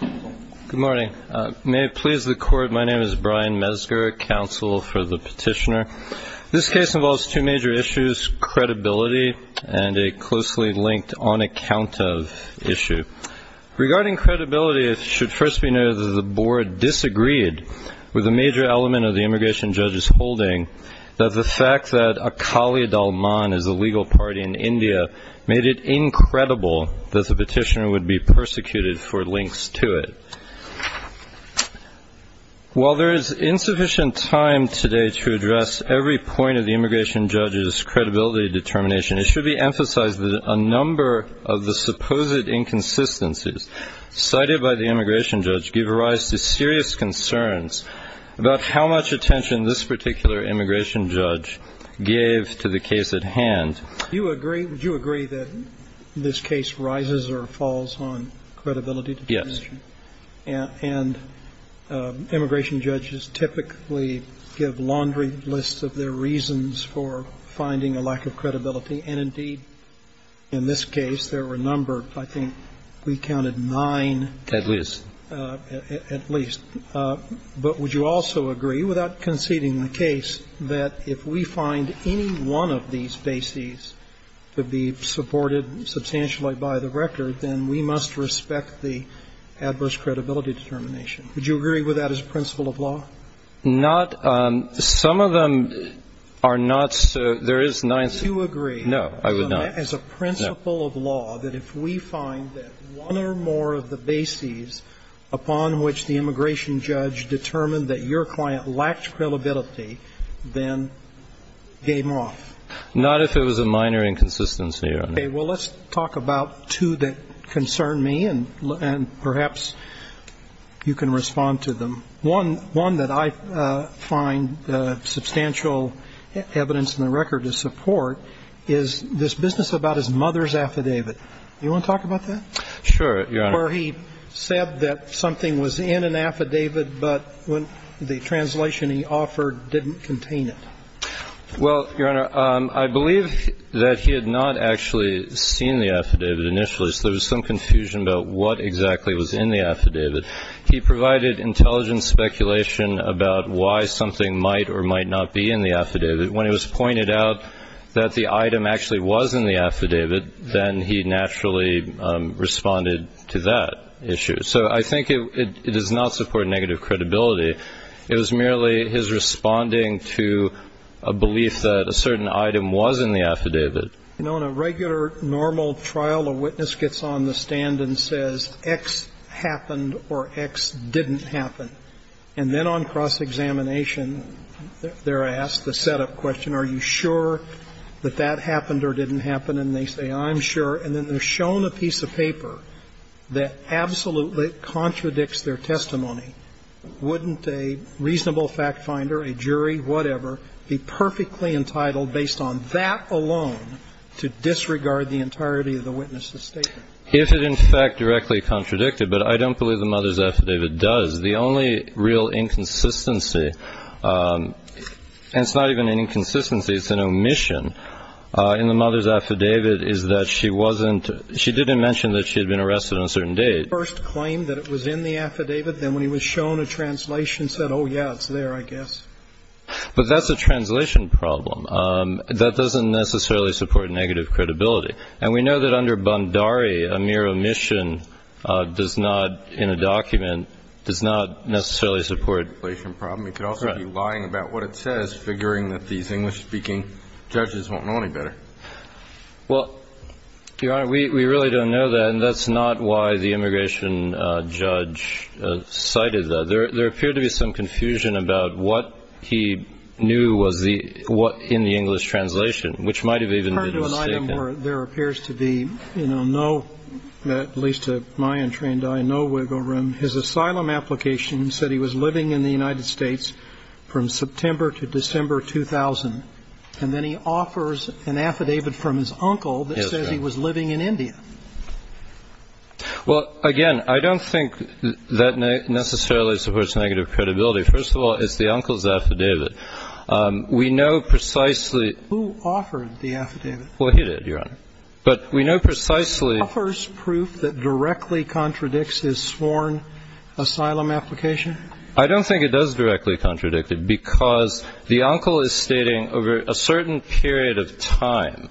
Good morning. May it please the Court, my name is Brian Mesger, Counsel for the Petitioner. This case involves two major issues, credibility and a closely linked on-account-of issue. Regarding credibility, it should first be noted that the Board disagreed with a major element of the immigration judge's holding that the fact that Akali Dalman is a legal party in India made it incredible that the petitioner would be persecuted for links to it. While there is insufficient time today to address every point of the immigration judge's credibility determination, it should be emphasized that a number of the supposed inconsistencies cited by the immigration judge give rise to serious concerns about how much attention this particular immigration judge gave to the case at hand. Do you agree that this case rises or falls on credibility determination? Yes. And immigration judges typically give laundry lists of their reasons for finding a lack of credibility, and indeed, in this case, there were numbered, I think, we counted nine. At least. At least. But would you also agree, without conceding the case, that if we find any one of these bases to be supported substantially by the record, then we must respect the adverse credibility determination? Would you agree with that as principle of law? Not. Some of them are not so. There is none. Would you agree? No, I would not. As a principle of law, that if we find that one or more of the bases upon which the immigration judge determined that your client lacked credibility, then game off? Not if it was a minor inconsistency, Your Honor. Okay. Well, let's talk about two that concern me, and perhaps you can respond to them. One that I find substantial evidence in the record to support is this business about his mother's affidavit. Do you want to talk about that? Sure, Your Honor. Where he said that something was in an affidavit, but the translation he offered didn't contain it. Well, Your Honor, I believe that he had not actually seen the affidavit initially, so there was some confusion about what exactly was in the affidavit. He provided intelligent speculation about why something might or might not be in the affidavit. When it was pointed out that the item actually was in the affidavit, then he naturally responded to that issue. So I think it does not support negative credibility. It was merely his responding to a belief that a certain item was in the affidavit. You know, in a regular normal trial, a witness gets on the stand and says X happened or X didn't happen. And then on cross-examination, they're asked the setup question, are you sure that that happened or didn't happen, and they say, I'm sure. And then they're shown a piece of paper that absolutely contradicts their testimony. Wouldn't a reasonable fact finder, a jury, whatever, be perfectly entitled, based on that alone, to disregard the entirety of the witness's statement? If it, in fact, directly contradicted. But I don't believe the mother's affidavit does. The only real inconsistency, and it's not even an inconsistency, it's an omission, in the mother's affidavit is that she wasn't – she didn't mention that she had been arrested on a certain date. The first claim that it was in the affidavit, then when you were shown a translation, said, oh, yeah, it's there, I guess. But that's a translation problem. That doesn't necessarily support negative credibility. And we know that under Bandari, a mere omission does not, in a document, does not necessarily support a translation problem. We could also be lying about what it says, figuring that these English-speaking judges won't know any better. Well, Your Honor, we really don't know that. And that's not why the immigration judge cited that. There appeared to be some confusion about what he knew was in the English translation, which might have even been mistaken. According to an item where there appears to be no, at least to my untrained eye, no wiggle room, his asylum application said he was living in the United States from September to December 2000. And then he offers an affidavit from his uncle that says he was living in India. Well, again, I don't think that necessarily supports negative credibility. First of all, it's the uncle's affidavit. We know precisely. Who offered the affidavit? Well, he did, Your Honor. But we know precisely. Offers proof that directly contradicts his sworn asylum application? I don't think it does directly contradict it because the uncle is stating over a certain period of time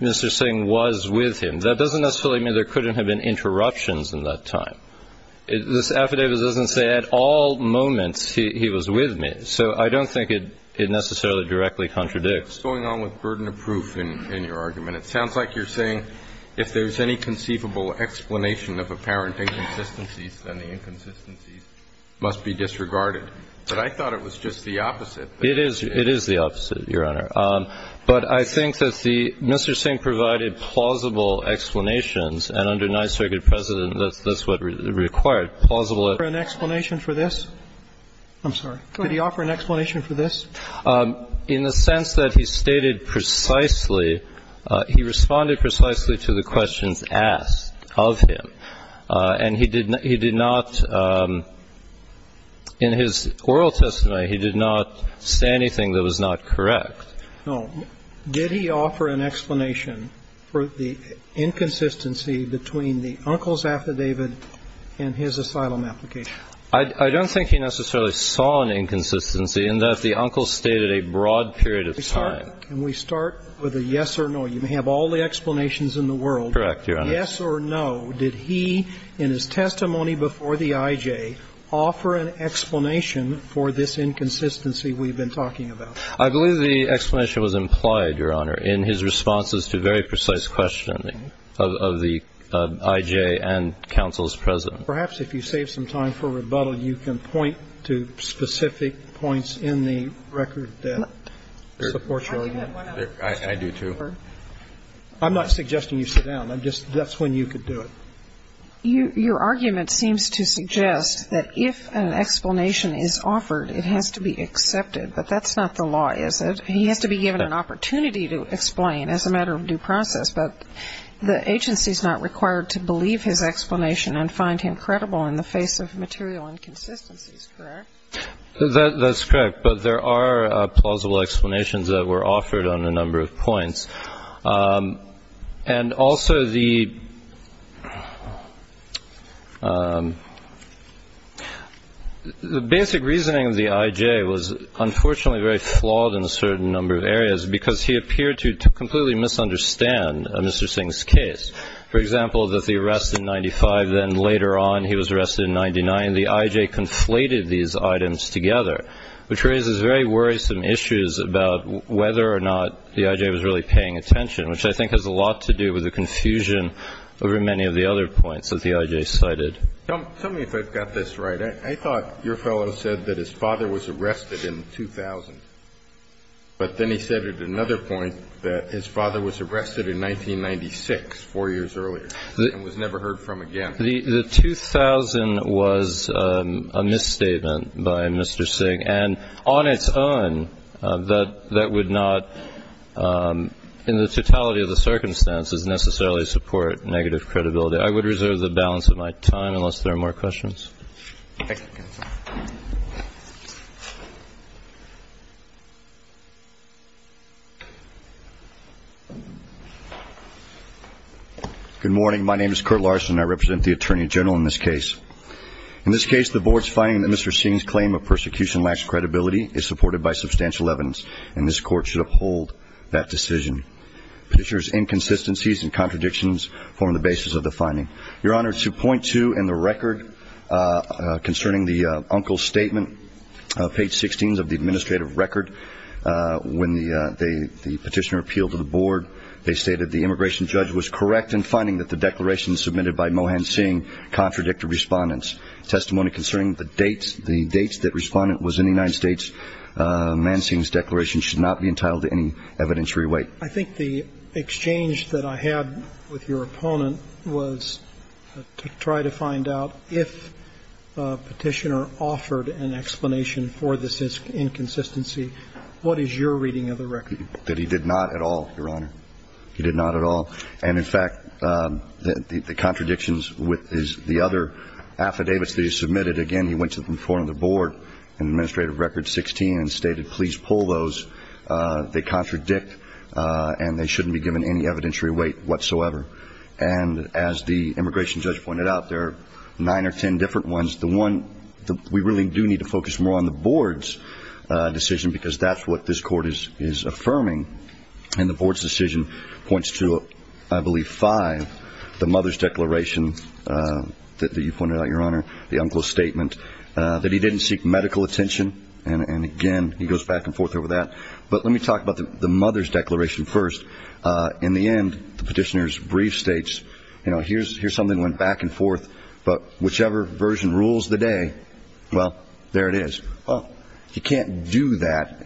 Mr. Singh was with him. That doesn't necessarily mean there couldn't have been interruptions in that time. This affidavit doesn't say at all moments he was with me. So I don't think it necessarily directly contradicts. What's going on with burden of proof in your argument? It sounds like you're saying if there's any conceivable explanation of apparent inconsistencies, then the inconsistencies must be disregarded. But I thought it was just the opposite. It is. It is the opposite, Your Honor. But I think that the Mr. Singh provided plausible explanations. And under Ninth Circuit precedent, that's what required, plausible. Could he offer an explanation for this? I'm sorry. Go ahead. Could he offer an explanation for this? In the sense that he stated precisely, he responded precisely to the questions asked of him. And he did not, in his oral testimony, he did not say anything that was not correct. No. Did he offer an explanation for the inconsistency between the uncle's affidavit and his asylum application? I don't think he necessarily saw an inconsistency in that the uncle stated a broad period of time. Can we start with a yes or no? You may have all the explanations in the world. Correct, Your Honor. Yes or no, did he, in his testimony before the I.J., offer an explanation for this inconsistency we've been talking about? I believe the explanation was implied, Your Honor, in his responses to very precise questioning of the I.J. and counsel's president. Perhaps if you save some time for rebuttal, you can point to specific points in the record that support your argument. I do, too. I'm not suggesting you sit down. I'm just, that's when you could do it. Your argument seems to suggest that if an explanation is offered, it has to be accepted. But that's not the law, is it? He has to be given an opportunity to explain as a matter of due process. But the agency is not required to believe his explanation and find him credible in the face of material inconsistencies, correct? That's correct. But there are plausible explanations that were offered on a number of points. And also, the basic reasoning of the I.J. was unfortunately very flawed in a certain number of areas, because he appeared to completely misunderstand Mr. Singh's case. For example, that the arrest in 1995, then later on he was arrested in 1999, and the I.J. conflated these items together, which raises very worrisome issues about whether or not the I.J. was really paying attention, which I think has a lot to do with the confusion over many of the other points that the I.J. cited. Tell me if I've got this right. I thought your fellow said that his father was arrested in 2000. But then he said at another point that his father was arrested in 1996, four years earlier, and was never heard from again. The 2000 was a misstatement by Mr. Singh. And on its own, that would not, in the totality of the circumstances, necessarily support negative credibility. I would reserve the balance of my time unless there are more questions. Good morning. My name is Curt Larson, and I represent the Attorney General in this case. In this case, the Board's finding that Mr. Singh's claim of persecution lacks credibility is supported by substantial evidence, and this Court should uphold that decision. Petitioner's inconsistencies and contradictions form the basis of the finding. Your Honor, 2.2 in the record concerning the uncle's statement, page 16 of the administrative record, when the petitioner appealed to the Board, they stated the immigration judge was correct in finding that the declaration submitted by Mohan Singh contradicted Respondent's testimony concerning the dates that Respondent was in the United States. Mohan Singh's declaration should not be entitled to any evidentiary weight. I think the exchange that I had with your opponent was to try to find out if Petitioner offered an explanation for this inconsistency. What is your reading of the record? That he did not at all, Your Honor. He did not at all. And, in fact, the contradictions with the other affidavits that he submitted, again, he went to the front of the Board in administrative record 16 and stated, please pull those. They contradict, and they shouldn't be given any evidentiary weight whatsoever. And as the immigration judge pointed out, there are nine or ten different ones. The one that we really do need to focus more on the Board's decision, because that's what this Court is affirming, and the Board's decision points to, I believe, five. The mother's declaration that you pointed out, Your Honor, the uncle's statement, that he didn't seek medical attention, and, again, he goes back and forth over that. But let me talk about the mother's declaration first. In the end, the Petitioner's brief states, you know, here's something that went back and forth, but whichever version rules the day, well, there it is. Well, you can't do that.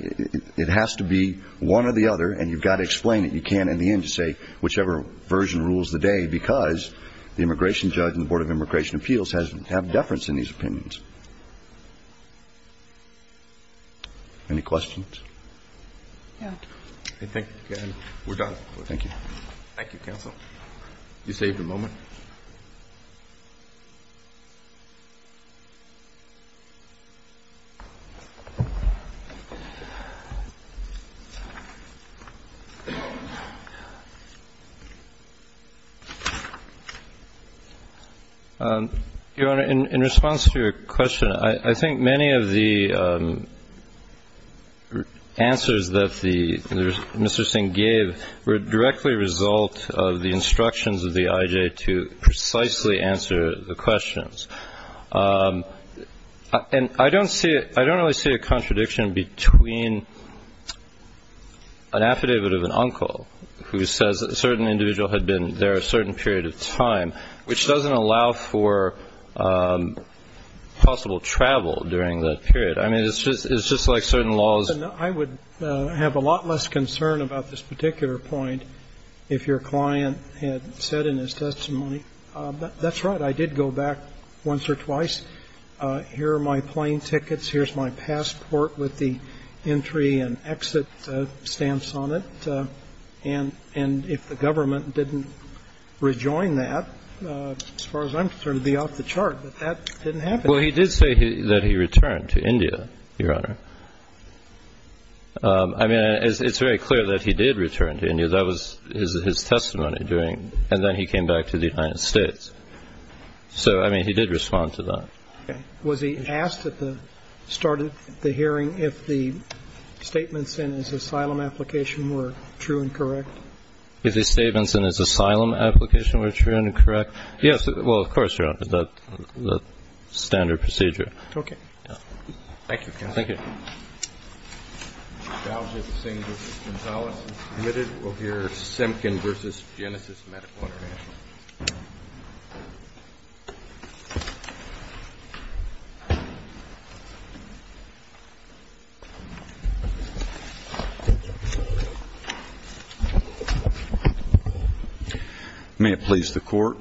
It has to be one or the other, and you've got to explain it. You can't, in the end, say whichever version rules the day because the immigration judge and the Board of Immigration Appeals have deference in these opinions. Any questions? I think we're done. Thank you. Thank you, counsel. You saved a moment. Your Honor, in response to your question, I think many of the answers that the Mr. directly result of the instructions of the IJ to precisely answer the questions. And I don't really see a contradiction between an affidavit of an uncle who says that a certain individual had been there a certain period of time, which doesn't allow for possible travel during that period. I mean, it's just like certain laws. And I would have a lot less concern about this particular point if your client had said in his testimony, that's right, I did go back once or twice. Here are my plane tickets. Here's my passport with the entry and exit stamps on it. And if the government didn't rejoin that, as far as I'm concerned, it would be off the chart. But that didn't happen. Well, he did say that he returned to India, Your Honor. I mean, it's very clear that he did return to India. That was his testimony during and then he came back to the United States. So, I mean, he did respond to that. Was he asked at the start of the hearing if the statements in his asylum application were true and correct? If the statements in his asylum application were true and correct? Yes. Well, of course, Your Honor. That's standard procedure. Okay. Thank you, counsel. Thank you. Mr. Chaujit Singh v. Gonzalez is admitted. We'll hear Semkin v. Genesis Medical International. May it please the Court.